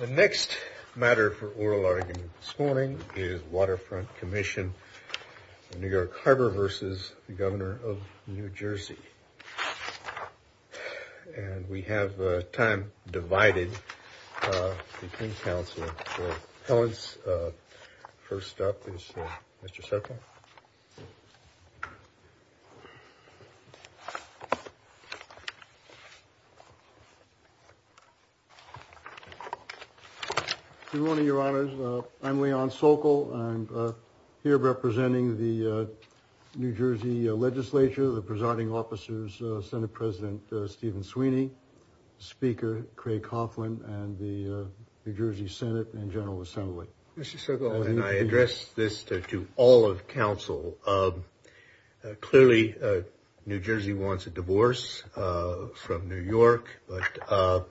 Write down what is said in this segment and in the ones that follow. The next matter for oral argument this morning is Waterfront Commission of New York Harbor v. Governor of New Jersey. And we have time divided between counsel for appellants. First up is Mr. Sokol. Good morning, your honors. I'm Leon Sokol. I'm here representing the New Jersey legislature, the presiding officers, Senate President Stephen Sweeney, Speaker Craig Coughlin and the New Jersey Senate and General Assembly. And I address this to all of counsel. Clearly, New Jersey wants a divorce from New York. But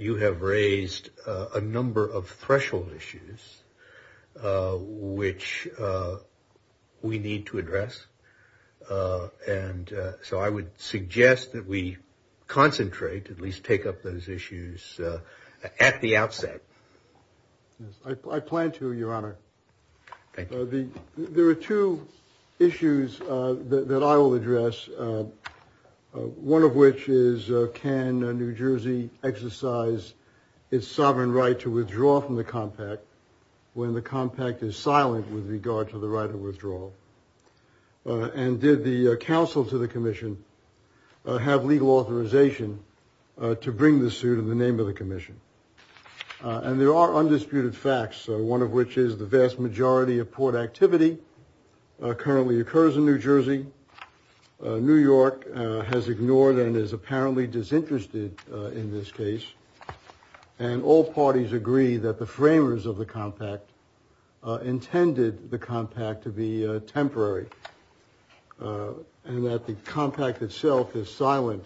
you have raised a number of threshold issues which we need to address. And so I would suggest that we concentrate, at least take up those issues at the outset. I plan to, your honor. There are two issues that I will address. One of which is, can New Jersey exercise its sovereign right to withdraw from the compact when the compact is silent with regard to the right of withdrawal? And did the counsel to the commission have legal authorization to bring the suit in the name of the commission? And there are undisputed facts, one of which is the vast majority of port activity currently occurs in New Jersey. New York has ignored and is apparently disinterested in this case. And all parties agree that the framers of the compact intended the compact to be temporary and that the compact itself is silent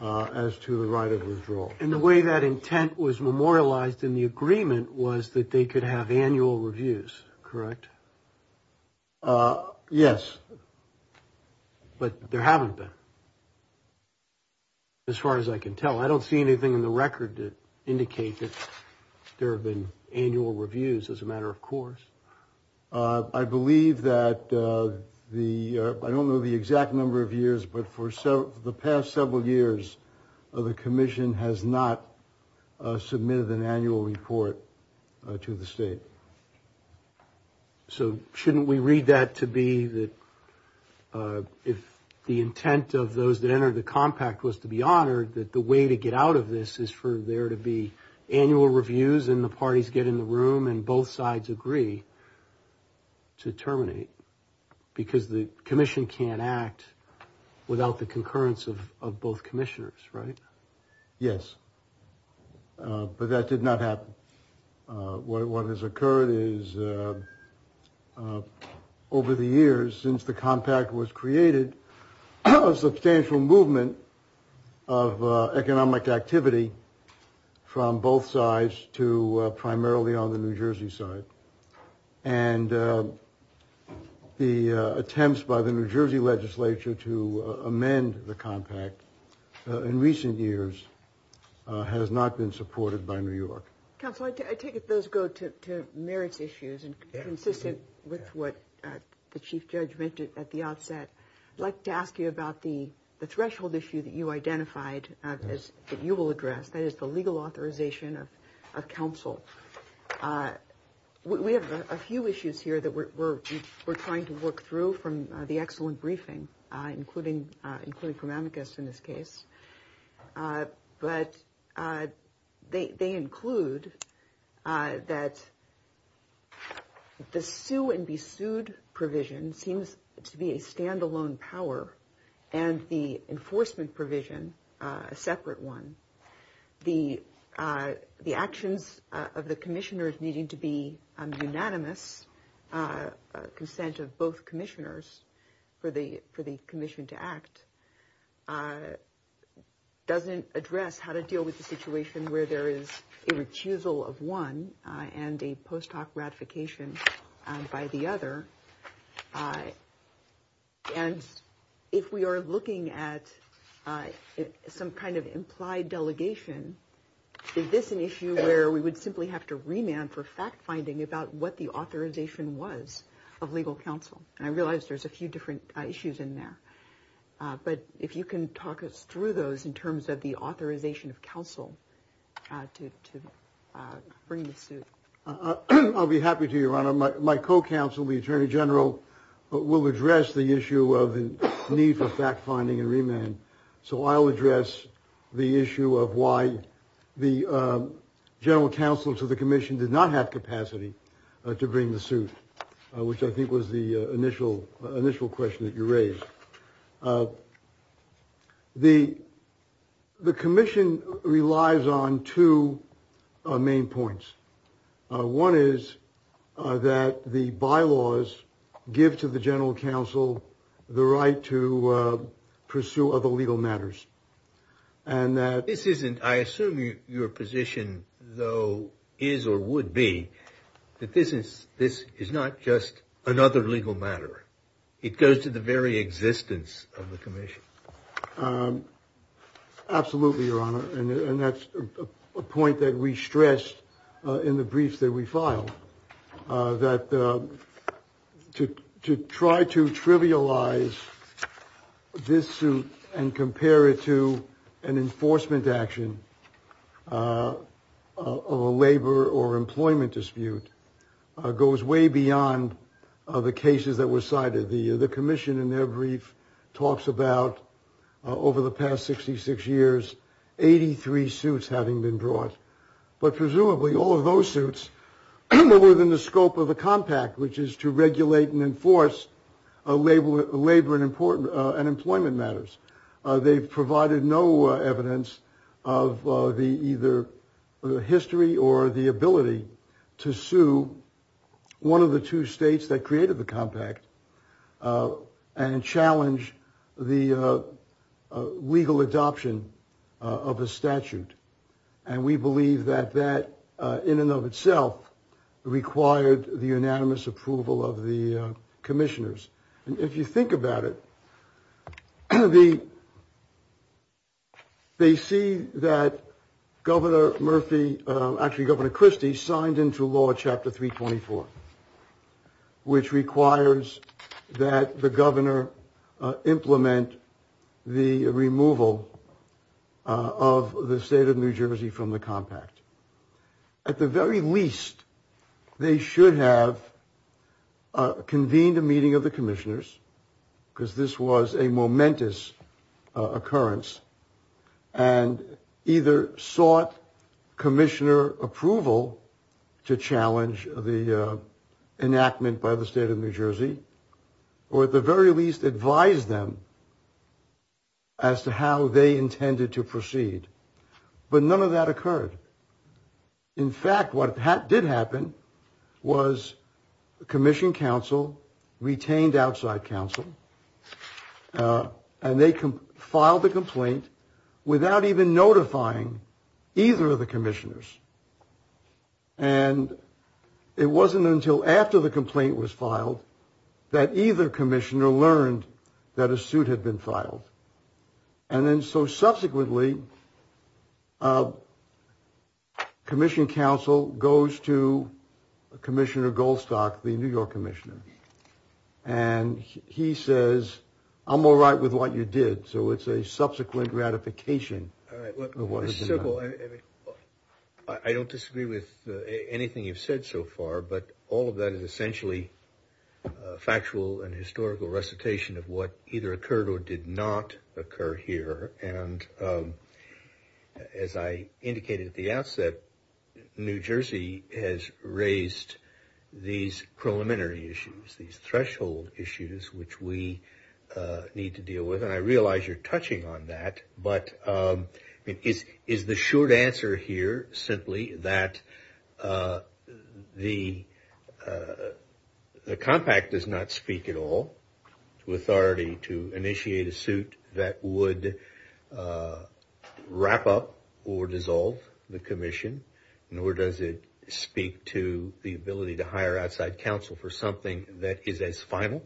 as to the right of withdrawal. And the way that intent was memorialized in the agreement was that they could have annual reviews, correct? Yes. But there haven't been. As far as I can tell, I don't see anything in the record to indicate that there have been annual reviews as a matter of course. I believe that the I don't know the exact number of years, but for the past several years, the commission has not submitted an annual report to the state. So shouldn't we read that to be that if the intent of those that entered the compact was to be honored, that the way to get out of this is for there to be annual reviews and the parties get in the room and both sides agree to terminate because the commission can't act without the concurrence of both commissioners. Yes. But that did not happen. What has occurred is over the years since the compact was created, a substantial movement of economic activity from both sides to primarily on the New Jersey side. And the attempts by the New Jersey legislature to amend the compact in recent years has not been supported by New York. Council, I take it those go to merits issues and consistent with what the chief judge mentioned at the outset. I'd like to ask you about the threshold issue that you identified as you will address. That is the legal authorization of a council. We have a few issues here that we're trying to work through from the excellent briefing, including including from amicus in this case. But they include that. The sue and be sued provision seems to be a standalone power and the enforcement provision, a separate one. The the actions of the commissioners needing to be unanimous consent of both commissioners for the for the commission to act doesn't address how to deal with the situation where there is a recusal of one and a post hoc ratification by the other. And if we are looking at some kind of implied delegation, is this an issue where we would simply have to remand for fact finding about what the authorization was of legal counsel? And I realize there's a few different issues in there. But if you can talk us through those in terms of the authorization of counsel to bring the suit, I'll be happy to. My co-counsel, the attorney general will address the issue of the need for fact finding and remand. So I'll address the issue of why the general counsel to the commission did not have capacity to bring the suit, which I think was the initial initial question that you raised. The the commission relies on two main points. One is that the bylaws give to the general counsel the right to pursue other legal matters. And this isn't I assume your position, though, is or would be that this is this is not just another legal matter. It goes to the very existence of the commission. Absolutely. Your Honor. And that's a point that we stressed in the brief that we filed that to to try to trivialize this suit and compare it to an enforcement action of a labor or employment dispute goes way beyond the cases that were cited. The commission in their brief talks about over the past 66 years, 83 suits having been brought. But presumably all of those suits are within the scope of a compact, which is to regulate and enforce a labor labor and important unemployment matters. They've provided no evidence of the either history or the ability to sue one of the two states that created the compact and challenge the legal adoption of a statute. And we believe that that in and of itself required the unanimous approval of the commissioners. And if you think about it, the. They see that Governor Murphy actually Governor Christie signed into law Chapter three, 24. Which requires that the governor implement the removal of the state of New Jersey from the compact. At the very least, they should have convened a meeting of the commissioners because this was a momentous occurrence and either sought commissioner approval to challenge the enactment by the state of New Jersey. Or at the very least, advise them. As to how they intended to proceed. But none of that occurred. In fact, what did happen was the commission council retained outside counsel and they can file the complaint without even notifying either of the commissioners. And it wasn't until after the complaint was filed that either commissioner learned that a suit had been filed. And then so subsequently. Commission counsel goes to Commissioner Goldstock, the New York commissioner, and he says, I'm all right with what you did. So it's a subsequent gratification. So I don't disagree with anything you've said so far, but all of that is essentially factual and historical recitation of what either occurred or did not occur here. And as I indicated at the outset, New Jersey has raised these preliminary issues, these threshold issues, which we need to deal with. And I realize you're touching on that, but is the short answer here simply that the compact does not speak at all to authority to initiate a suit that would wrap up or dissolve the commission. Nor does it speak to the ability to hire outside counsel for something that is as final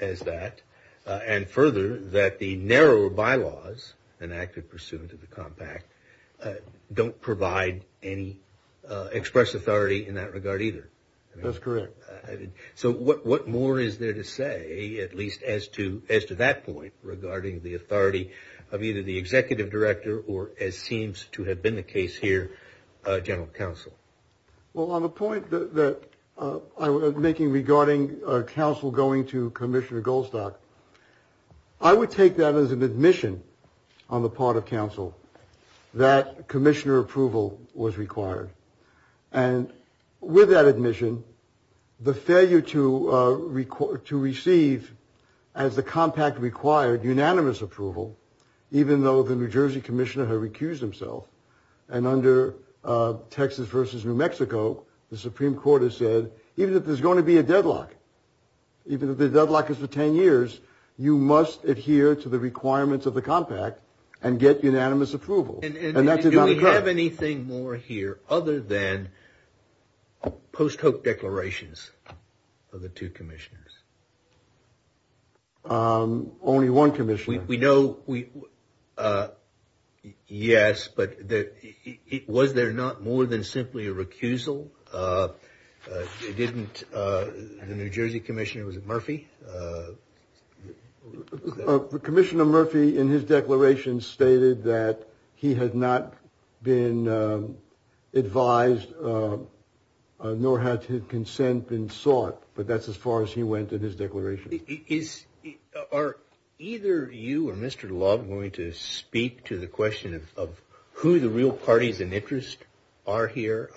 as that. And further, that the narrow bylaws enacted pursuant to the compact don't provide any express authority in that regard either. That's correct. So what what more is there to say, at least as to as to that point regarding the authority of either the executive director or as seems to have been the case here? Well, on the point that I was making regarding counsel going to Commissioner Goldstock, I would take that as an admission on the part of counsel that commissioner approval was required. And with that admission, the failure to record to receive as the compact required unanimous approval, even though the New Jersey commissioner had recused himself and under Texas versus New Mexico. The Supreme Court has said even if there's going to be a deadlock, even if the deadlock is for 10 years, you must adhere to the requirements of the compact and get unanimous approval. And that's it. We have anything more here other than post hope declarations of the two commissioners. Only one commission. We know we. Yes. But was there not more than simply a recusal? Didn't the New Jersey commissioner was at Murphy. Commissioner Murphy, in his declaration, stated that he had not been advised, nor had his consent been sought. But that's as far as he went in his declaration. Is are either you or Mr. Love going to speak to the question of who the real parties in interest are here?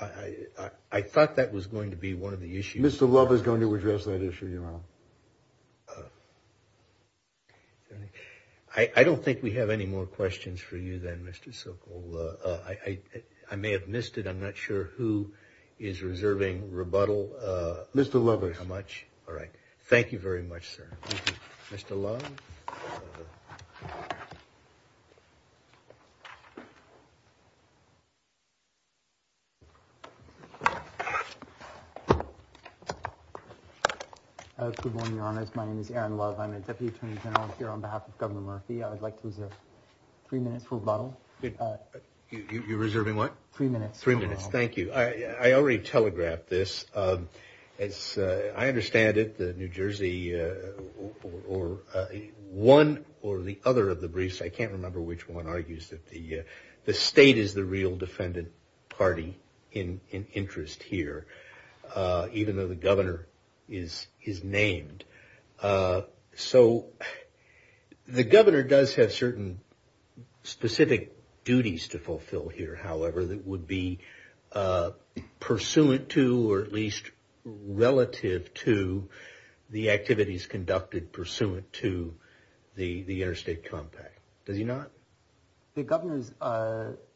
I thought that was going to be one of the issues. Mr. Love is going to address that issue. I don't think we have any more questions for you than Mr. Sokol. I may have missed it. I'm not sure who is reserving rebuttal. Mr. Lovers, how much? All right. Thank you very much, sir. Mr. Love. My name is Aaron Love. I'm a deputy attorney general here on behalf of Governor Murphy. I'd like to reserve three minutes for a bottle. You're reserving what? Three minutes. Three minutes. Thank you. I already telegraphed this. As I understand it, the New Jersey or one or the other of the briefs, I can't remember which one argues that the state is the real defendant party in interest here, even though the governor is named. So the governor does have certain specific duties to fulfill here, however, that would be pursuant to or at least relative to the activities conducted pursuant to the interstate compact. Does he not? The governor's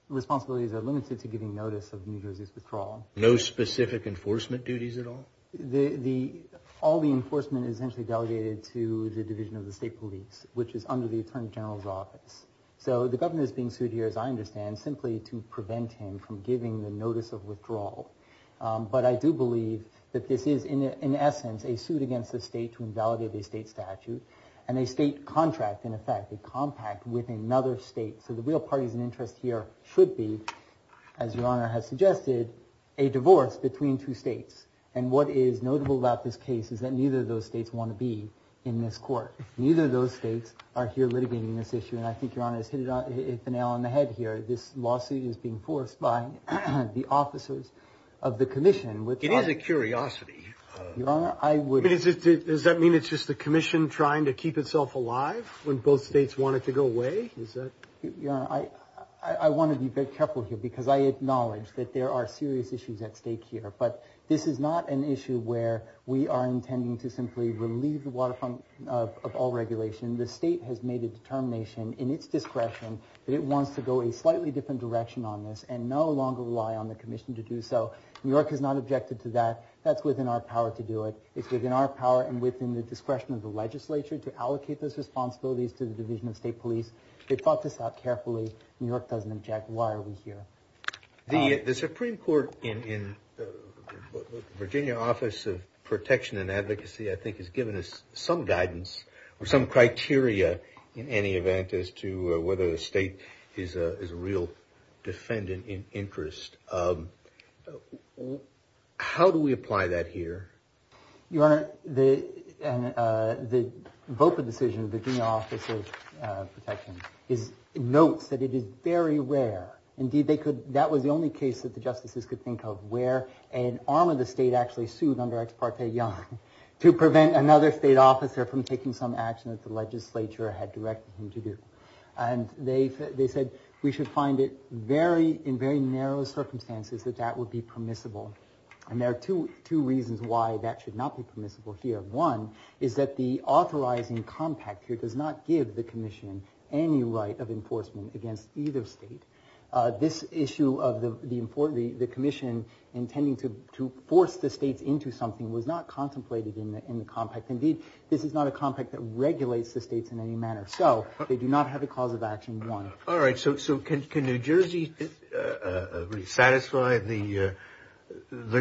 responsibilities are limited to giving notice of New Jersey's withdrawal. No specific enforcement duties at all. The all the enforcement is essentially delegated to the division of the state police, which is under the attorney general's office. So the governor is being sued here, as I understand, simply to prevent him from giving the notice of withdrawal. But I do believe that this is in essence a suit against the state to invalidate the state statute and a state contract. In effect, a compact with another state. So the real parties in interest here should be, as your honor has suggested, a divorce between two states. And what is notable about this case is that neither of those states want to be in this court. Neither of those states are here litigating this issue. And I think your honor has hit the nail on the head here. This lawsuit is being forced by the officers of the commission, which is a curiosity. Your honor, I would. Does that mean it's just the commission trying to keep itself alive when both states want it to go away? I want to be very careful here because I acknowledge that there are serious issues at stake here. But this is not an issue where we are intending to simply relieve the waterfront of all regulation. The state has made a determination in its discretion that it wants to go a slightly different direction on this and no longer rely on the commission to do so. New York has not objected to that. That's within our power to do it. It's within our power and within the discretion of the legislature to allocate those responsibilities to the Division of State Police. They thought this out carefully. New York doesn't object. Why are we here? The Supreme Court in Virginia Office of Protection and Advocacy, I think, has given us some guidance or some criteria in any event as to whether the state is a real defendant in interest. How do we apply that here? Your honor, the VOPA decision of the Virginia Office of Protection notes that it is very rare. Indeed, that was the only case that the justices could think of where an arm of the state actually sued under Ex Parte Young to prevent another state officer from taking some action that the legislature had directed him to do. They said we should find it in very narrow circumstances that that would be permissible. And there are two reasons why that should not be permissible here. One is that the authorizing compact here does not give the commission any right of enforcement against either state. This issue of the commission intending to force the states into something was not contemplated in the compact. Indeed, this is not a compact that regulates the states in any manner. So they do not have a cause of action, one. All right. So can New Jersey satisfy the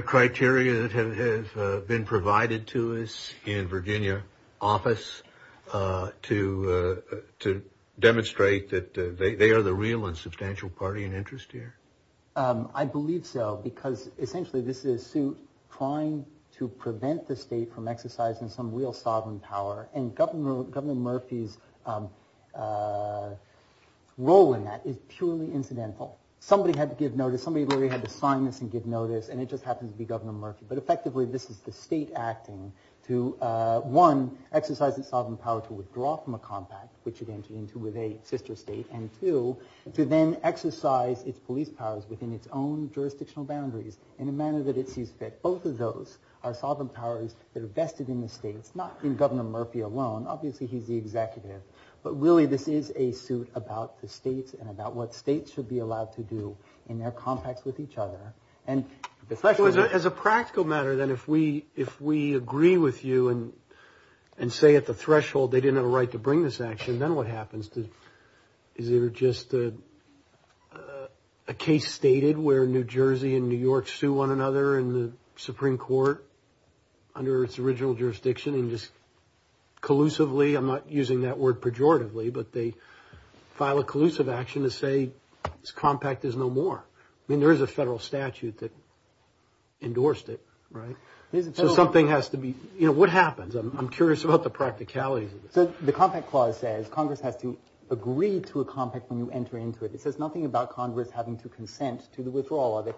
criteria that have been provided to us in Virginia office to demonstrate that they are the real and substantial party in interest here? I believe so, because essentially this is a suit trying to prevent the state from exercising some real sovereign power. And Governor Murphy's role in that is purely incidental. Somebody had to give notice. Somebody really had to sign this and give notice, and it just happens to be Governor Murphy. But effectively this is the state acting to, one, exercise its sovereign power to withdraw from a compact, which it entered into with a sister state, and two, to then exercise its police powers within its own jurisdictional boundaries in a manner that it sees fit. Both of those are sovereign powers that are vested in the states, not in Governor Murphy alone. Obviously he's the executive. But really this is a suit about the states and about what states should be allowed to do in their compacts with each other. As a practical matter, then, if we agree with you and say at the threshold they didn't have a right to bring this action, then what happens? Is there just a case stated where New Jersey and New York sue one another in the Supreme Court under its original jurisdiction and just collusively, I'm not using that word pejoratively, but they file a collusive action to say this compact is no more. I mean, there is a federal statute that endorsed it, right? So something has to be, you know, what happens? I'm curious about the practicalities of this. The compact clause says Congress has to agree to a compact when you enter into it. It says nothing about Congress having to consent to the withdrawal of it.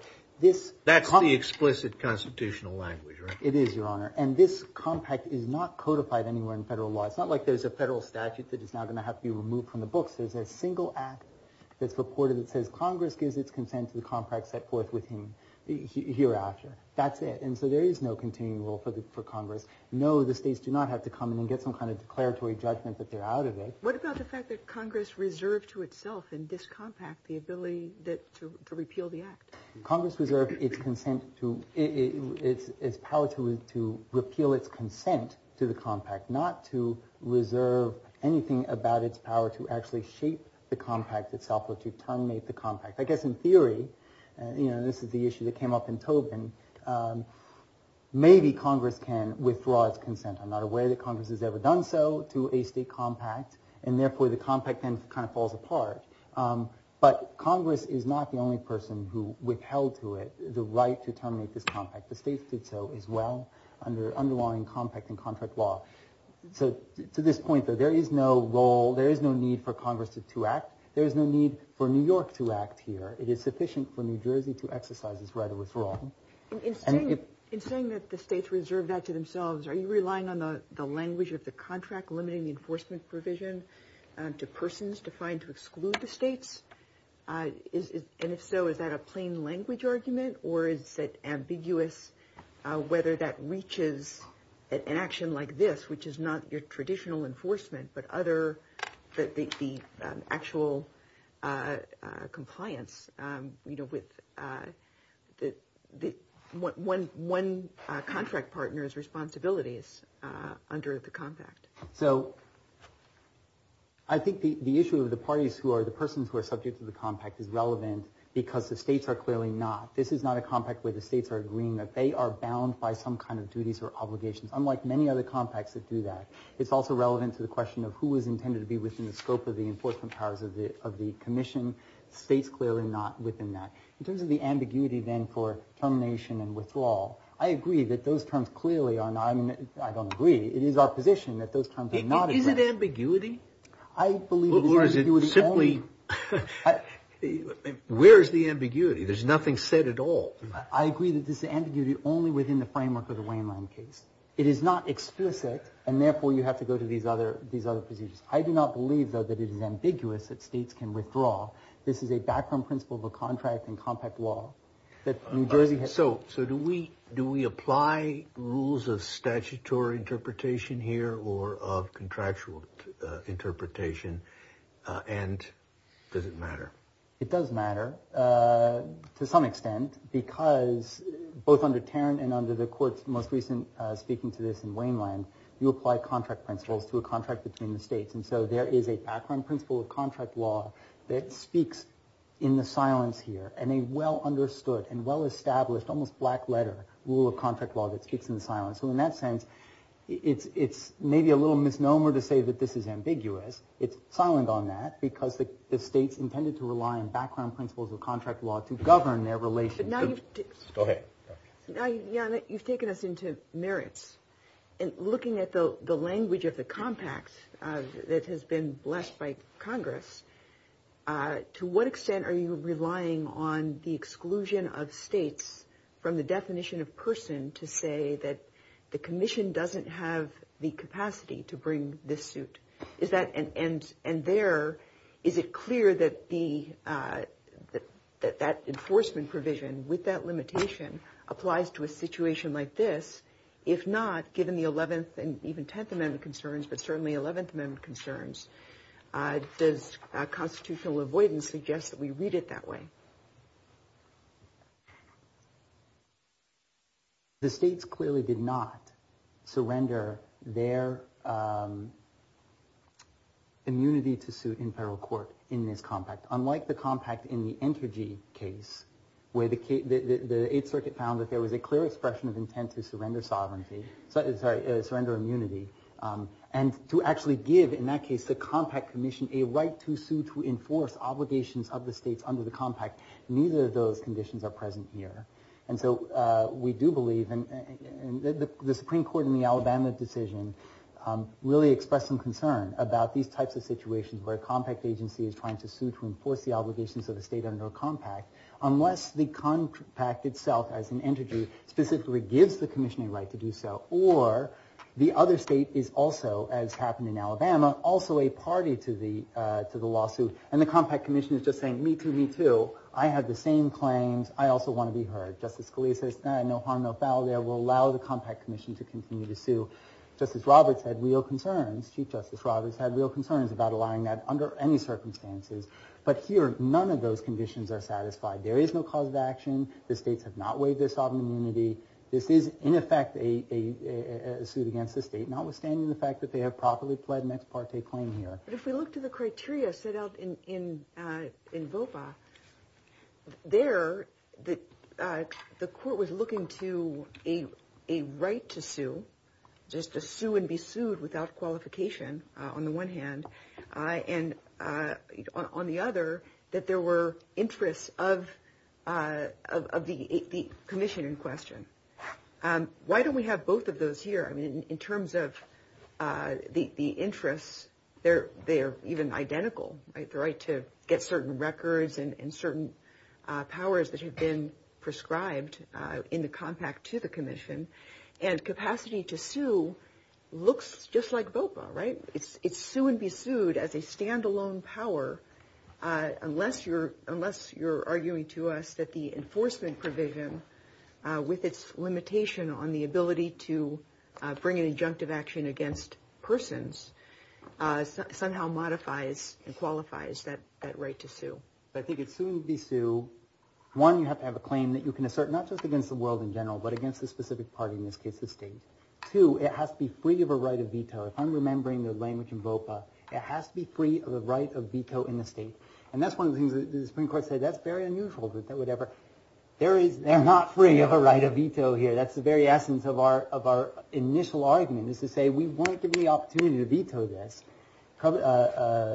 That's the explicit constitutional language, right? It is, Your Honor. And this compact is not codified anywhere in federal law. It's not like there's a federal statute that is now going to have to be removed from the books. There's a single act that's reported that says Congress gives its consent to the compact set forth with him hereafter. That's it. And so there is no continuing rule for Congress. No, the states do not have to come in and get some kind of declaratory judgment that they're out of it. What about the fact that Congress reserved to itself in this compact the ability to repeal the act? Congress reserved its power to repeal its consent to the compact, not to reserve anything about its power to actually shape the compact itself or to terminate the compact. I guess in theory, you know, this is the issue that came up in Tobin, maybe Congress can withdraw its consent. I'm not aware that Congress has ever done so to a state compact, and therefore the compact then kind of falls apart. But Congress is not the only person who withheld to it the right to terminate this compact. The states did so as well under underlying compact and contract law. So to this point, though, there is no role, there is no need for Congress to act. There is no need for New York to act here. It is sufficient for New Jersey to exercise its right of withdrawal. In saying that the states reserved that to themselves, are you relying on the language of the contract limiting the enforcement provision to persons defined to exclude the states? And if so, is that a plain language argument or is it ambiguous whether that reaches an action like this, which is not your traditional enforcement but the actual compliance with one contract partner's responsibilities under the compact? So I think the issue of the parties who are the persons who are subject to the compact is relevant because the states are clearly not. This is not a compact where the states are agreeing that they are bound by some kind of duties or obligations, unlike many other compacts that do that. It's also relevant to the question of who is intended to be within the scope of the enforcement powers of the commission. States clearly not within that. In terms of the ambiguity then for termination and withdrawal, I agree that those terms clearly are not, I mean, I don't agree. It is our position that those terms are not addressed. Is it ambiguity? I believe it is ambiguity only. Or is it simply, where is the ambiguity? There's nothing said at all. I agree that this is ambiguity only within the framework of the Waynland case. It is not explicit, and therefore you have to go to these other procedures. I do not believe, though, that it is ambiguous that states can withdraw. This is a background principle of a contract and compact law. So do we apply rules of statutory interpretation here or of contractual interpretation? And does it matter? It does matter to some extent because both under Tarrant and under the court's most recent speaking to this in Waynland, you apply contract principles to a contract between the states. And so there is a background principle of contract law that speaks in the silence here, and a well understood and well established, almost black letter rule of contract law that speaks in the silence. So in that sense, it's maybe a little misnomer to say that this is ambiguous. It's silent on that because the states intended to rely on background principles of contract law to govern their relations. Go ahead. Jan, you've taken us into merits. And looking at the language of the compact that has been blessed by Congress, to what extent are you relying on the exclusion of states from the definition of person to say that the commission doesn't have the capacity to bring this suit? And there, is it clear that that enforcement provision with that limitation applies to a situation like this? If not, given the 11th and even 10th Amendment concerns, but certainly 11th Amendment concerns, does constitutional avoidance suggest that we read it that way? The states clearly did not surrender their immunity to suit in federal court in this compact. Unlike the compact in the Entergy case, where the Eighth Circuit found that there was a clear expression of intent to surrender sovereignty, sorry, surrender immunity, and to actually give, in that case, the compact commission a right to sue to enforce obligations of the states under the compact. Neither of those conditions are present here. And so we do believe, and the Supreme Court in the Alabama decision really expressed some concern about these types of situations where a compact agency is trying to sue to enforce the obligations of the state under a compact, unless the compact itself as an entity specifically gives the commissioning right to do so, or the other state is also, as happened in Alabama, also a party to the lawsuit. And the compact commission is just saying, me too, me too. I have the same claims. I also want to be heard. Justice Scalia says, no harm, no foul. They will allow the compact commission to continue to sue. Justice Roberts had real concerns. Chief Justice Roberts had real concerns about allowing that under any circumstances. But here, none of those conditions are satisfied. There is no cause of action. The states have not waived their sovereign immunity. This is, in effect, a suit against the state, notwithstanding the fact that they have properly pled an ex parte claim here. But if we look to the criteria set out in VOPA, there the court was looking to a right to sue, just to sue and be sued without qualification on the one hand, and on the other, that there were interests of the commission in question. Why don't we have both of those here? I mean, in terms of the interests, they are even identical, right? The right to get certain records and certain powers that have been prescribed in the compact to the commission. And capacity to sue looks just like VOPA, right? It's sue and be sued as a standalone power, unless you're arguing to us that the enforcement provision, with its limitation on the ability to bring an injunctive action against persons, somehow modifies and qualifies that right to sue. I think it's sue and be sued. One, you have to have a claim that you can assert not just against the world in general, but against a specific party, in this case the state. Two, it has to be free of a right of veto. If I'm remembering the language in VOPA, it has to be free of a right of veto in the state. And that's one of the things that the Supreme Court said, that's very unusual. They're not free of a right of veto here. That's the very essence of our initial argument, is to say, we want to give you the opportunity to veto this,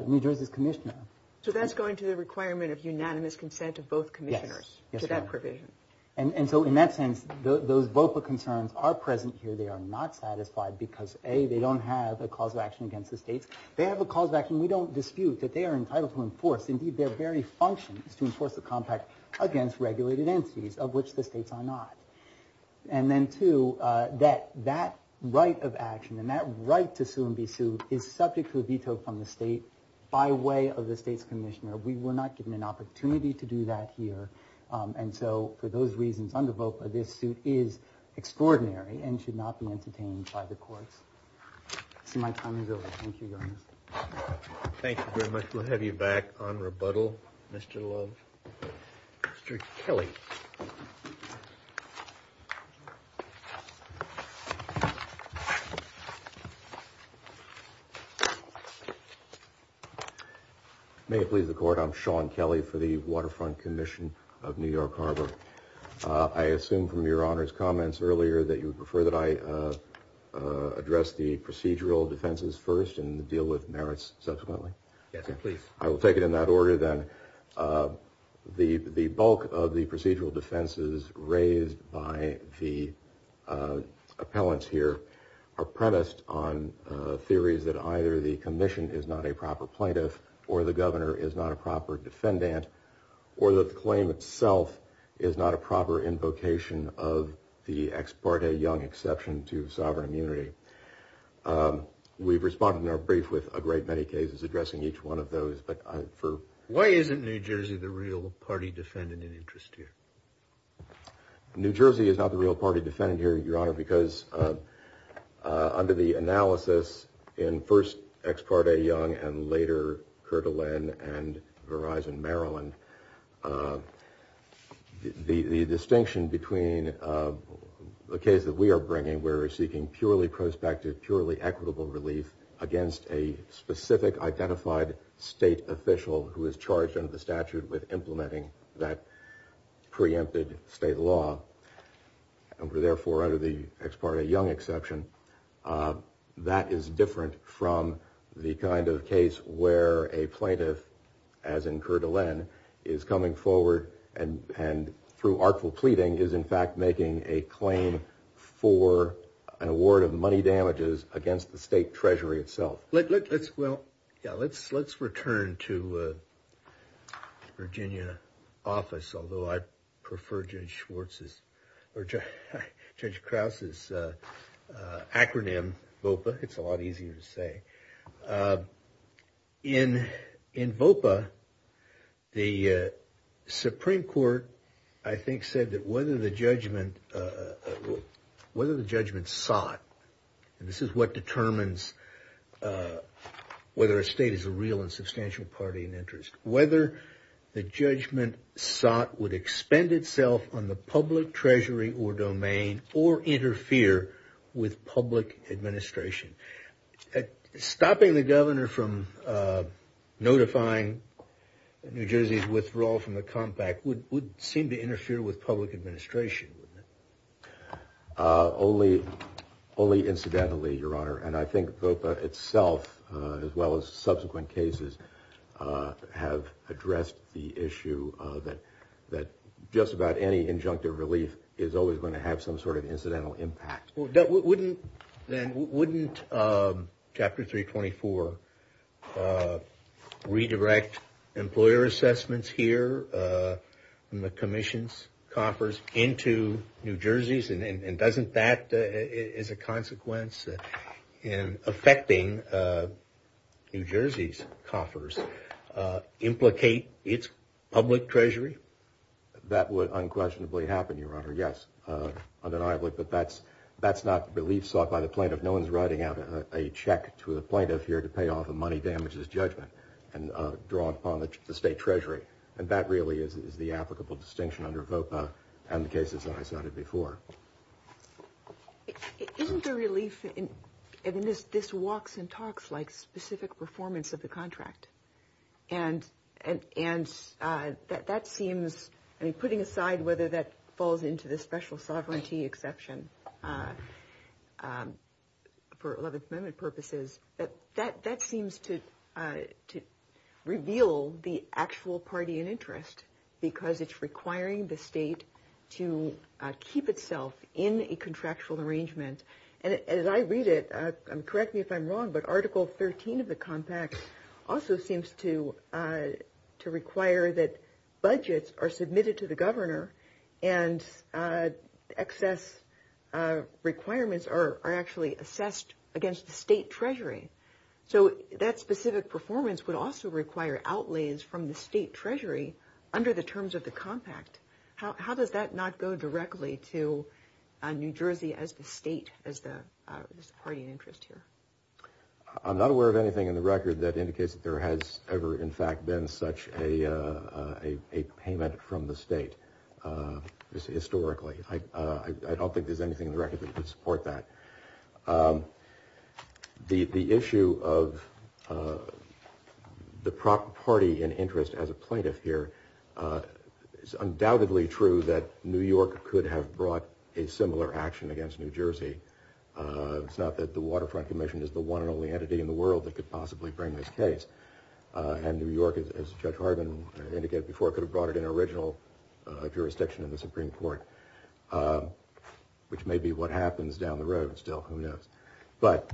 New Jersey's commissioner. So that's going to the requirement of unanimous consent of both commissioners to that provision. And so in that sense, those VOPA concerns are present here. They are not satisfied because, A, they don't have a cause of action against the states. They have a cause of action. We don't dispute that they are entitled to enforce. Indeed, their very function is to enforce the compact against regulated entities, of which the states are not. And then two, that that right of action and that right to sue and be sued is subject to a veto from the state by way of the state's commissioner. We were not given an opportunity to do that here. And so for those reasons, under VOPA, this suit is extraordinary and should not be entertained by the courts. So my time is over. Thank you, Your Honor. Thank you very much. We'll have you back on rebuttal, Mr. Love. Mr. Kelly. Thank you. May it please the Court, I'm Sean Kelly for the Waterfront Commission of New York Harbor. I assume from Your Honor's comments earlier that you would prefer that I address the procedural defenses first and deal with merits subsequently. Yes, please. I will take it in that order then. The bulk of the procedural defenses raised by the appellants here are premised on theories that either the commission is not a proper plaintiff or the governor is not a proper defendant or that the claim itself is not a proper invocation of the Ex parte Young exception to sovereign immunity. We've responded in our brief with a great many cases addressing each one of those. Why isn't New Jersey the real party defendant in interest here? New Jersey is not the real party defendant here, Your Honor, because under the analysis in first Ex parte Young and later Kirtland and Verizon Maryland, the distinction between the case that we are bringing where we're seeking purely prospective, purely equitable relief against a specific identified state official who is charged under the statute with implementing that preempted state law, and therefore under the Ex parte Young exception, that is different from the kind of case where a plaintiff, as in Kirtland, is coming forward and through artful pleading is in fact making a claim for an award of money damages against the state treasury itself. Well, let's return to Virginia office, although I prefer Judge Krause's acronym, VOPA. It's a lot easier to say. In VOPA, the Supreme Court, I think, said that whether the judgment sought, and this is what determines whether a state is a real and substantial party in interest, whether the judgment sought would expend itself on the public treasury or domain or interfere with public administration. Stopping the governor from notifying New Jersey's withdrawal from the compact would seem to interfere with public administration, wouldn't it? Only incidentally, Your Honor. And I think VOPA itself, as well as subsequent cases, have addressed the issue that just about any injunctive relief is always going to have some sort of incidental impact. Then wouldn't Chapter 324 redirect employer assessments here from the commission's coffers into New Jersey's, and doesn't that as a consequence in affecting New Jersey's coffers implicate its public treasury? That would unquestionably happen, Your Honor, yes, undeniably. But that's not relief sought by the plaintiff. No one's writing out a check to a plaintiff here to pay off a money damages judgment and draw it upon the state treasury. And that really is the applicable distinction under VOPA and the cases that I cited before. Isn't the relief in this walks and talks like specific performance of the contract? And putting aside whether that falls into the special sovereignty exception for 11th Amendment purposes, that seems to reveal the actual party in interest because it's requiring the state to keep itself in a contractual arrangement. As I read it, correct me if I'm wrong, but Article 13 of the compact also seems to require that budgets are submitted to the governor and excess requirements are actually assessed against the state treasury. So that specific performance would also require outlays from the state treasury under the terms of the compact. How does that not go directly to New Jersey as the state, as the party in interest here? I'm not aware of anything in the record that indicates that there has ever, in fact, been such a payment from the state historically. I don't think there's anything in the record that would support that. The issue of the party in interest as a plaintiff here is undoubtedly true that New York could have brought a similar action against New Jersey. It's not that the Waterfront Commission is the one and only entity in the world that could possibly bring this case. And New York, as Judge Harbin indicated before, could have brought it in original jurisdiction in the Supreme Court, which may be what happens down the road still, who knows. But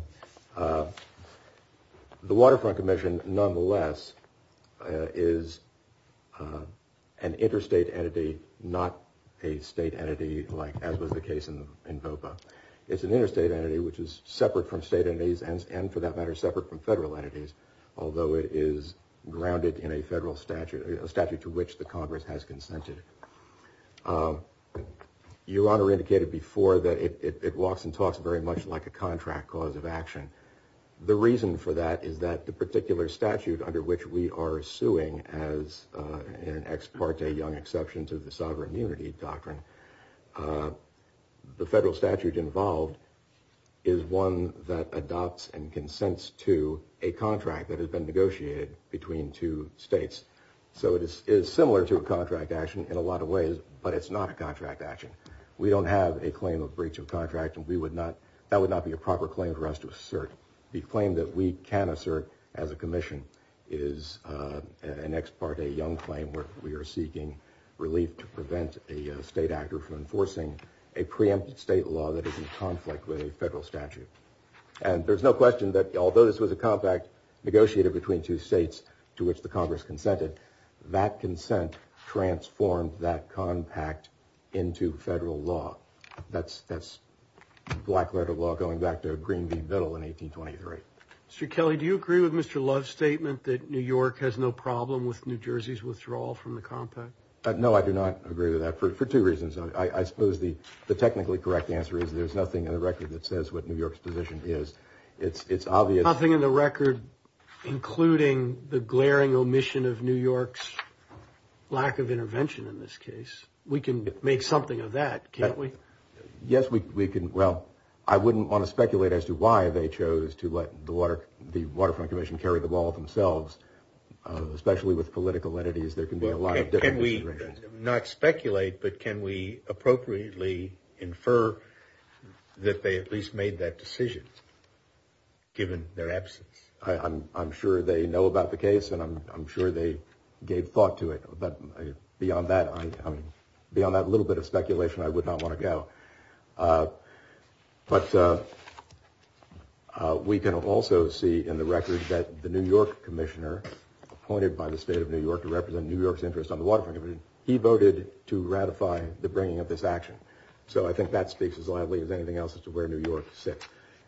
the Waterfront Commission nonetheless is an interstate entity, not a state entity like as was the case in VOPA. It's an interstate entity which is separate from state entities and for that matter separate from federal entities, although it is grounded in a federal statute, a statute to which the Congress has consented. Your Honor indicated before that it walks and talks very much like a contract cause of action. The reason for that is that the particular statute under which we are suing, as an ex parte Young Exception to the Sovereign Unity Doctrine, the federal statute involved is one that adopts and consents to a contract that has been negotiated between two states. So it is similar to a contract action in a lot of ways, but it's not a contract action. We don't have a claim of breach of contract and that would not be a proper claim for us to assert. The claim that we can assert as a commission is an ex parte Young claim where we are seeking relief to prevent a state actor from enforcing a preempted state law that is in conflict with a federal statute. And there's no question that although this was a contract negotiated between two states to which the Congress consented, that consent transformed that compact into federal law. That's black letter law going back to Green v. Biddle in 1823. Mr. Kelly, do you agree with Mr. Love's statement that New York has no problem with New Jersey's withdrawal from the compact? No, I do not agree with that for two reasons. I suppose the technically correct answer is there's nothing in the record that says what New York's position is. Nothing in the record including the glaring omission of New York's lack of intervention in this case. We can make something of that, can't we? Yes, we can. Well, I wouldn't want to speculate as to why they chose to let the Waterfront Commission carry the ball themselves, especially with political entities. There can be a lot of different descriptions. Not speculate, but can we appropriately infer that they at least made that decision given their absence? I'm sure they know about the case, and I'm sure they gave thought to it. But beyond that little bit of speculation, I would not want to go. But we can also see in the record that the New York Commissioner, appointed by the State of New York to represent New York's interest on the Waterfront Commission, he voted to ratify the bringing of this action. So I think that speaks as loudly as anything else as to where New York sits.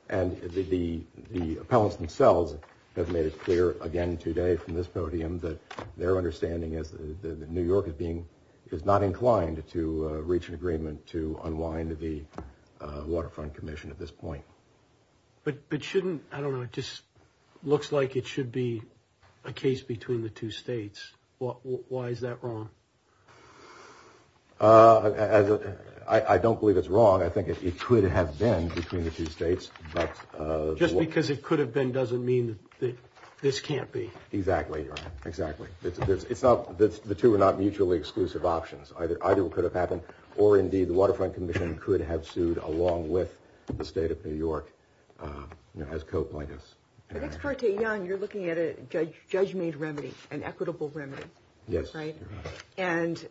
And the appellants themselves have made it clear again today from this podium that their understanding is that New York is not inclined to reach an agreement to unwind the Waterfront Commission at this point. But shouldn't, I don't know, it just looks like it should be a case between the two states. Why is that wrong? I don't believe it's wrong. I think it could have been between the two states. Just because it could have been doesn't mean that this can't be. Exactly, exactly. The two are not mutually exclusive options. Either it could have happened, or indeed the Waterfront Commission could have sued along with the State of New York as co-plaintiffs. I think it's far too young. You're looking at a judge-made remedy, an equitable remedy, right? Yes, you're right. And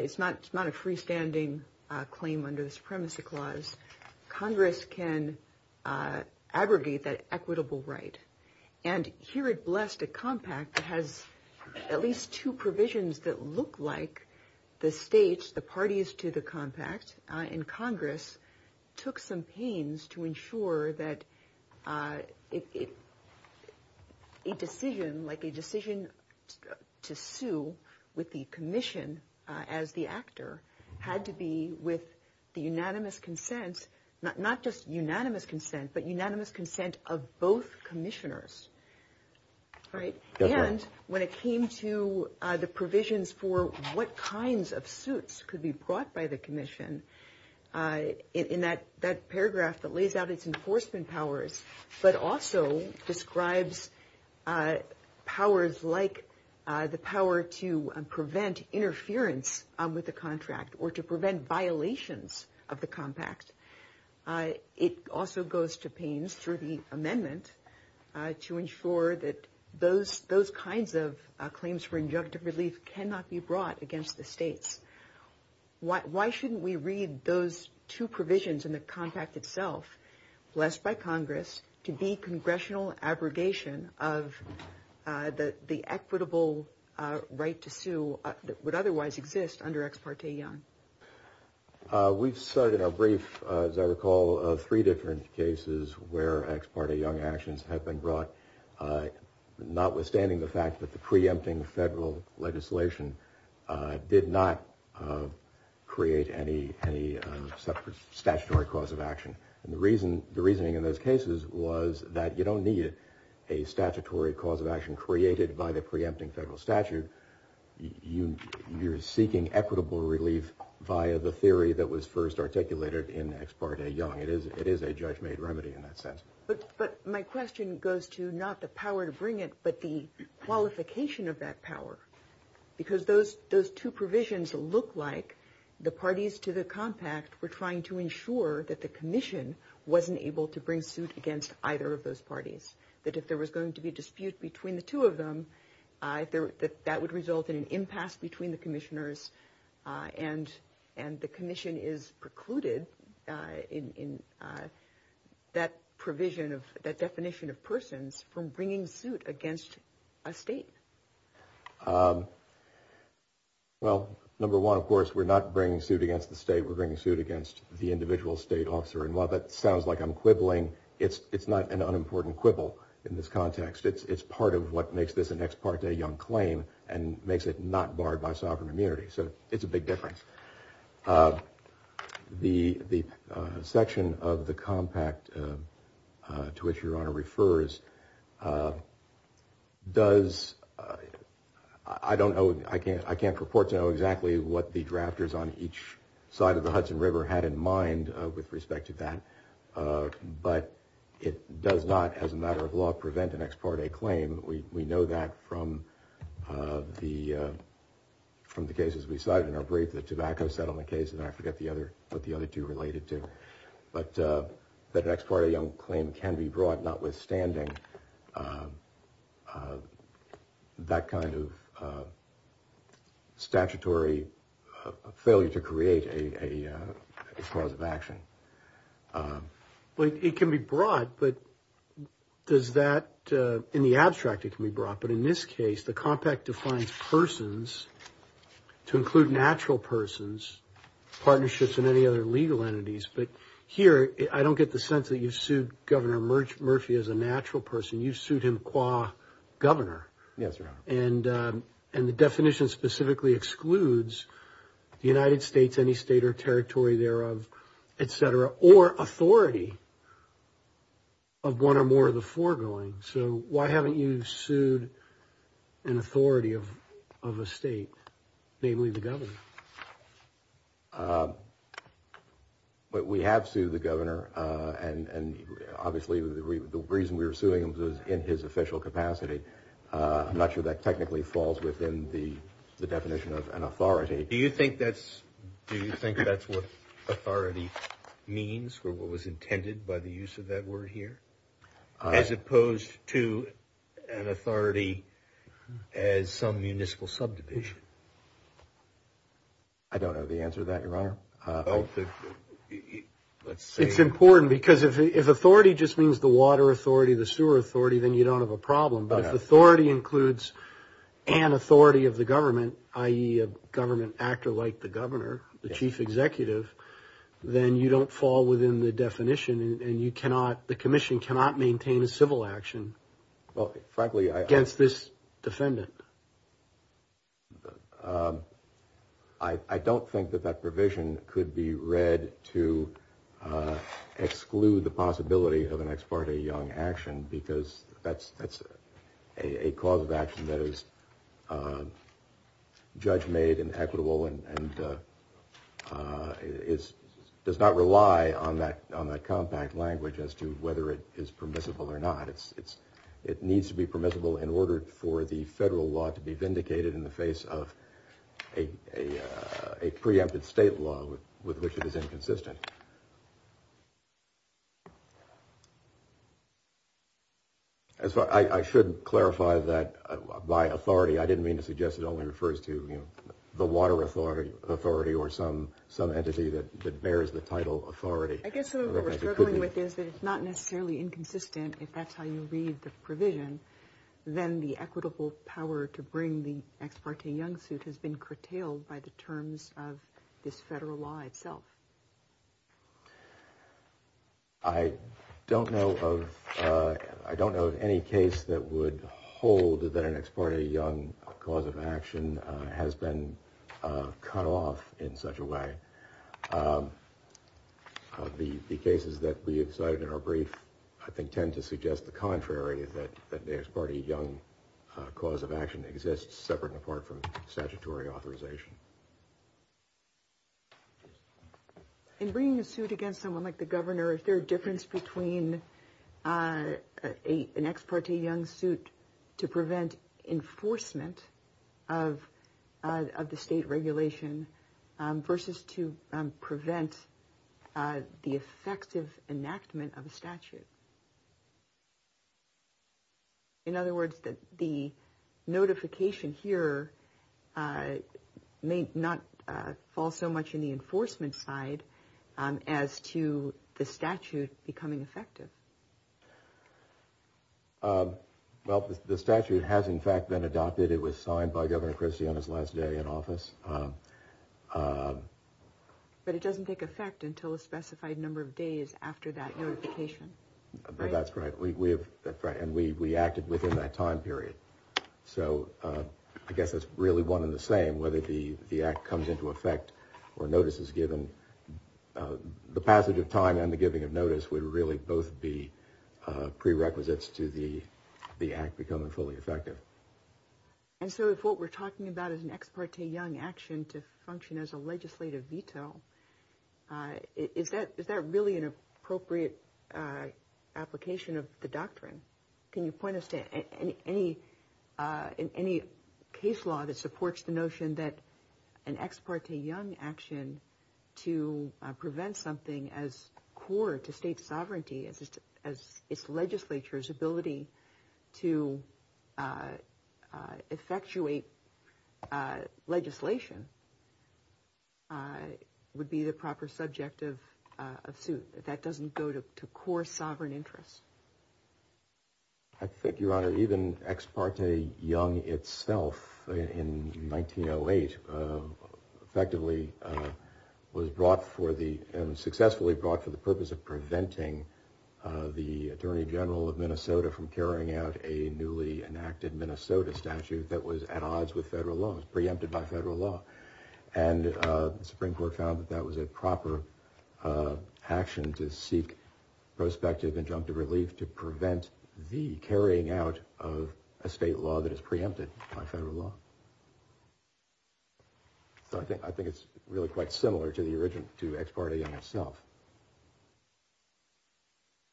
it's not a freestanding claim under the Supremacy Clause. Congress can abrogate that equitable right. And here it blessed a compact that has at least two provisions that look like the states, the parties to the compact. And Congress took some pains to ensure that a decision like a decision to sue with the commission as the actor had to be with the unanimous consent, not just unanimous consent, but unanimous consent of both commissioners, right? Yes, ma'am. When it came to the provisions for what kinds of suits could be brought by the commission, in that paragraph that lays out its enforcement powers, but also describes powers like the power to prevent interference with the contract or to prevent violations of the compact. It also goes to pains through the amendment to ensure that those kinds of claims for injunctive relief cannot be brought against the states. Why shouldn't we read those two provisions in the compact itself, blessed by Congress, to be congressional abrogation of the equitable right to sue that would otherwise exist under Ex Parte Young? We've started a brief, as I recall, of three different cases where Ex Parte Young actions have been brought, notwithstanding the fact that the preempting federal legislation did not create any statutory cause of action. And the reasoning in those cases was that you don't need a statutory cause of action created by the preempting federal statute. You're seeking equitable relief via the theory that was first articulated in Ex Parte Young. It is a judge-made remedy in that sense. But my question goes to not the power to bring it, but the qualification of that power. Because those two provisions look like the parties to the compact were trying to ensure that the commission wasn't able to bring suit against either of those parties. That if there was going to be a dispute between the two of them, that that would result in an impasse between the commissioners, and the commission is precluded in that provision of that definition of persons from bringing suit against a state. Well, number one, of course, we're not bringing suit against the state. We're bringing suit against the individual state officer. And while that sounds like I'm quibbling, it's not an unimportant quibble in this context. It's part of what makes this an Ex Parte Young claim and makes it not barred by sovereign immunity. So it's a big difference. The section of the compact to which Your Honor refers does – I don't know – I can't purport to know exactly what the drafters on each side of the Hudson River had in mind with respect to that. But it does not, as a matter of law, prevent an Ex Parte claim. We know that from the cases we cited in our brief, the tobacco settlement case, and I forget what the other two related to. But the Ex Parte Young claim can be brought, notwithstanding that kind of statutory failure to create a cause of action. Well, it can be brought, but does that – in the abstract, it can be brought. But in this case, the compact defines persons to include natural persons, partnerships, and any other legal entities. But here, I don't get the sense that you've sued Governor Murphy as a natural person. You've sued him qua governor. Yes, Your Honor. And the definition specifically excludes the United States, any state or territory thereof, et cetera, or authority of one or more of the foregoing. So why haven't you sued an authority of a state, namely the governor? We have sued the governor, and obviously the reason we were suing him was in his official capacity. I'm not sure that technically falls within the definition of an authority. Do you think that's what authority means or what was intended by the use of that word here? As opposed to an authority as some municipal subdivision. I don't know the answer to that, Your Honor. It's important because if authority just means the water authority, the sewer authority, then you don't have a problem. But if authority includes an authority of the government, i.e., a government actor like the governor, the chief executive, then you don't fall within the definition and the commission cannot maintain a civil action against this defendant. I don't think that that provision could be read to exclude the possibility of an ex parte young action because that's a cause of action that is judge-made and equitable and does not rely on that compact language as to whether it is permissible or not. It needs to be permissible in order for the federal law to be vindicated in the face of a preempted state law with which it is inconsistent. I should clarify that by authority. I didn't mean to suggest it only refers to the water authority or some entity that bears the title authority. I guess what we're struggling with is that it's not necessarily inconsistent if that's how you read the provision. Then the equitable power to bring the ex parte young suit has been curtailed by the terms of this federal law itself. I don't know of any case that would hold that an ex parte young cause of action has been cut off in such a way. The cases that we cited in our brief, I think, tend to suggest the contrary, that the ex parte young cause of action exists separate and apart from statutory authorization. In bringing a suit against someone like the governor, is there a difference between an ex parte young suit to prevent enforcement of the state regulation versus to prevent the effective enactment of a statute? In other words, that the notification here may not fall so much in the enforcement side as to the statute becoming effective. Well, the statute has in fact been adopted. It was signed by Governor Christie on his last day in office. But it doesn't take effect until a specified number of days after that notification. That's right. And we acted within that time period. So I guess it's really one in the same whether the act comes into effect or notice is given. The passage of time and the giving of notice would really both be prerequisites to the act becoming fully effective. And so if what we're talking about is an ex parte young action to function as a legislative veto, is that really an appropriate application of the doctrine? Can you point us to any case law that supports the notion that an ex parte young action to prevent something as core to state sovereignty as its legislature's ability to effectuate legislation would be the proper subject of a suit that doesn't go to core sovereign interests? I think, Your Honor, even ex parte young itself in 1908 effectively was brought for the successfully brought for the purpose of preventing the attorney general of Minnesota from carrying out a newly enacted Minnesota statute that was at odds with federal loans preempted by federal law. And the Supreme Court found that that was a proper action to seek prospective injunctive relief to prevent the carrying out of a state law that is preempted by federal law. So I think I think it's really quite similar to the origin to ex parte young itself.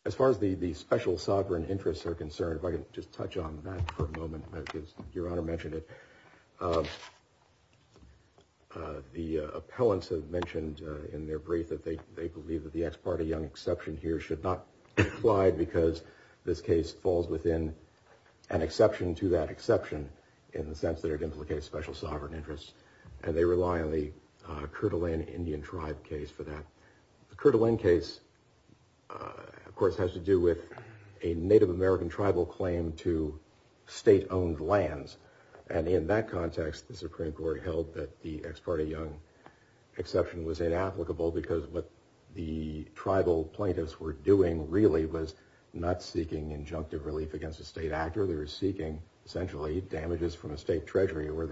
As far as the special sovereign interests are concerned, if I can just touch on that for a moment, because Your Honor mentioned it, the appellants have mentioned in their brief that they believe that the ex parte young exception here should not apply because this case falls within an exception to that exception in the sense that it implicates special sovereign interests. And they rely on the Kirtland Indian tribe case for that. The Kirtland case, of course, has to do with a Native American tribal claim to state owned lands. And in that context, the Supreme Court held that the ex parte young exception was inapplicable because what the tribal plaintiffs were doing really was not seeking injunctive relief against a state actor. They were seeking essentially damages from a state treasury or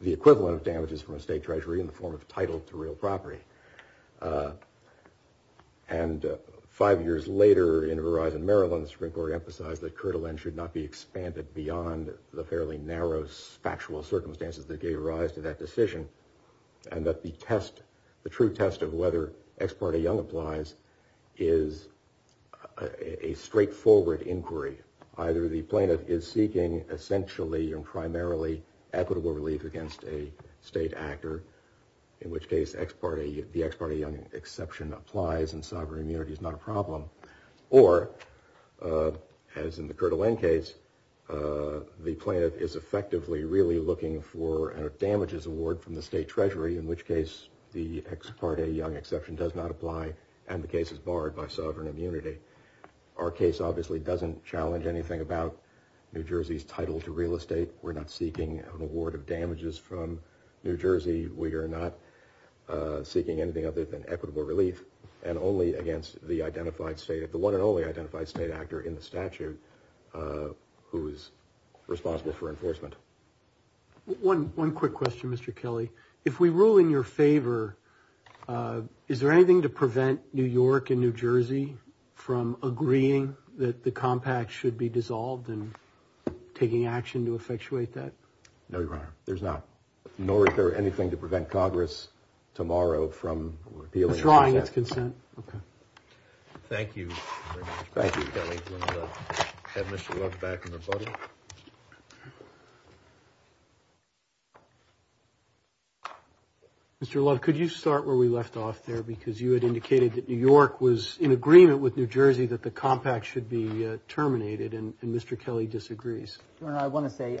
the equivalent of damages from a state treasury in the form of title to real property. And five years later in Verizon, Maryland, the Supreme Court emphasized that Kirtland should not be expanded beyond the fairly narrow factual circumstances that gave rise to that decision. And that the test, the true test of whether ex parte young applies is a straightforward inquiry. Either the plaintiff is seeking essentially and primarily equitable relief against a state actor, in which case the ex parte young exception applies and sovereign immunity is not a problem. Or, as in the Kirtland case, the plaintiff is effectively really looking for a damages award from the state treasury, in which case the ex parte young exception does not apply and the case is barred by sovereign immunity. Our case obviously doesn't challenge anything about New Jersey's title to real estate. We're not seeking an award of damages from New Jersey. We are not seeking anything other than equitable relief and only against the identified state of the one and only identified state actor in the statute who is responsible for enforcement. One quick question, Mr. Kelly. If we rule in your favor, is there anything to prevent New York and New Jersey from agreeing that the compact should be dissolved and taking action to effectuate that? No, Your Honor. There's not. Nor is there anything to prevent Congress tomorrow from appealing its consent. It's drawing its consent. Okay. Thank you very much. Thank you, Kelly. Have Mr. Love back in the budget. Mr. Love, could you start where we left off there? Because you had indicated that New York was in agreement with New Jersey that the compact should be terminated, and Mr. Kelly disagrees. Your Honor, I want to say,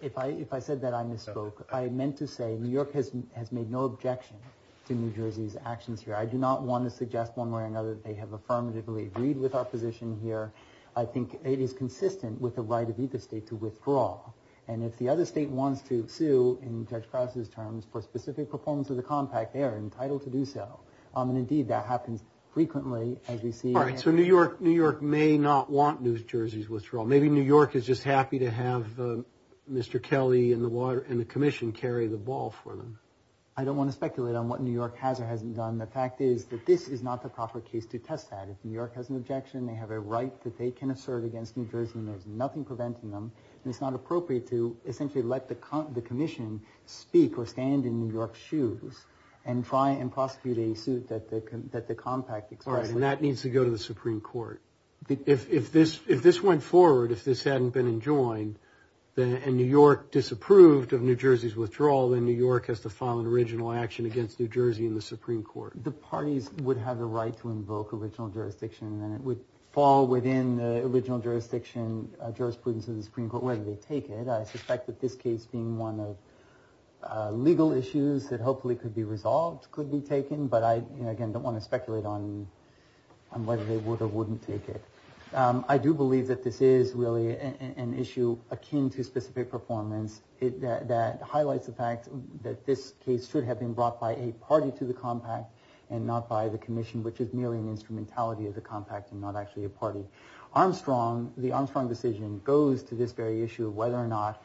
if I said that I misspoke, I meant to say New York has made no objection to New Jersey's actions here. I do not want to suggest one way or another that they have affirmatively agreed with our position here. I think it is consistent with the right of either state to withdraw. And if the other state wants to sue, in Judge Krause's terms, for specific performance of the compact, they are entitled to do so. And, indeed, that happens frequently, as we see. All right. So New York may not want New Jersey's withdrawal. Maybe New York is just happy to have Mr. Kelly and the commission carry the ball for them. I don't want to speculate on what New York has or hasn't done. The fact is that this is not the proper case to test that. If New York has an objection, they have a right that they can assert against New Jersey, and there's nothing preventing them. And it's not appropriate to essentially let the commission speak or stand in New York's shoes and try and prosecute a suit that the compact expresses. All right. And that needs to go to the Supreme Court. If this went forward, if this hadn't been enjoined, and New York disapproved of New Jersey's withdrawal, then New York has to file an original action against New Jersey in the Supreme Court. The parties would have the right to invoke original jurisdiction, and it would fall within the original jurisdiction, jurisprudence of the Supreme Court, whether they take it. I suspect that this case, being one of legal issues that hopefully could be resolved, could be taken. But I, again, don't want to speculate on whether they would or wouldn't take it. I do believe that this is really an issue akin to specific performance that highlights the fact that this case should have been brought by a party to the compact and not by the commission, which is merely an instrumentality of the compact and not actually a party. Armstrong, the Armstrong decision, goes to this very issue of whether or not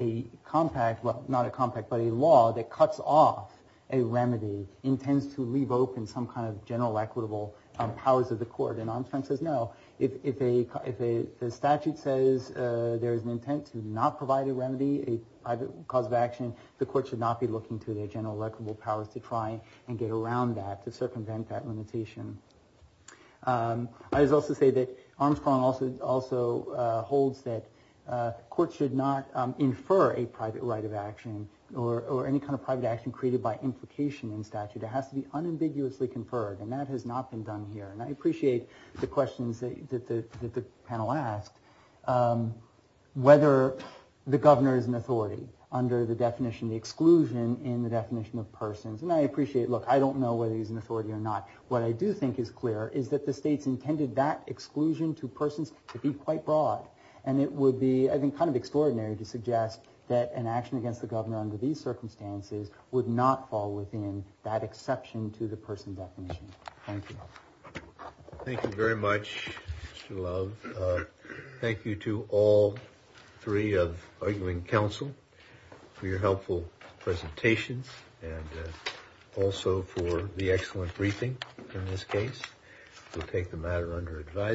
a compact, well, not a compact, but a law that cuts off a remedy intends to leave open some kind of general equitable powers of the court. And Armstrong says no. If a statute says there is an intent to not provide a remedy, a cause of action, the court should not be looking to their general equitable powers to try and get around that, to circumvent that limitation. I would also say that Armstrong also holds that courts should not infer a private right of action or any kind of private action created by implication in statute. It has to be unambiguously conferred, and that has not been done here. And I appreciate the questions that the panel asked, whether the governor is an authority under the definition, the exclusion in the definition of persons. And I appreciate, look, I don't know whether he's an authority or not. What I do think is clear is that the states intended that exclusion to persons to be quite broad. And it would be, I think, kind of extraordinary to suggest that an action against the governor under these circumstances would not fall within that exception to the person definition. Thank you. Thank you very much, Mr. Love. Thank you to all three of arguing counsel for your helpful presentations and also for the excellent briefing in this case. We'll take the matter under advisement.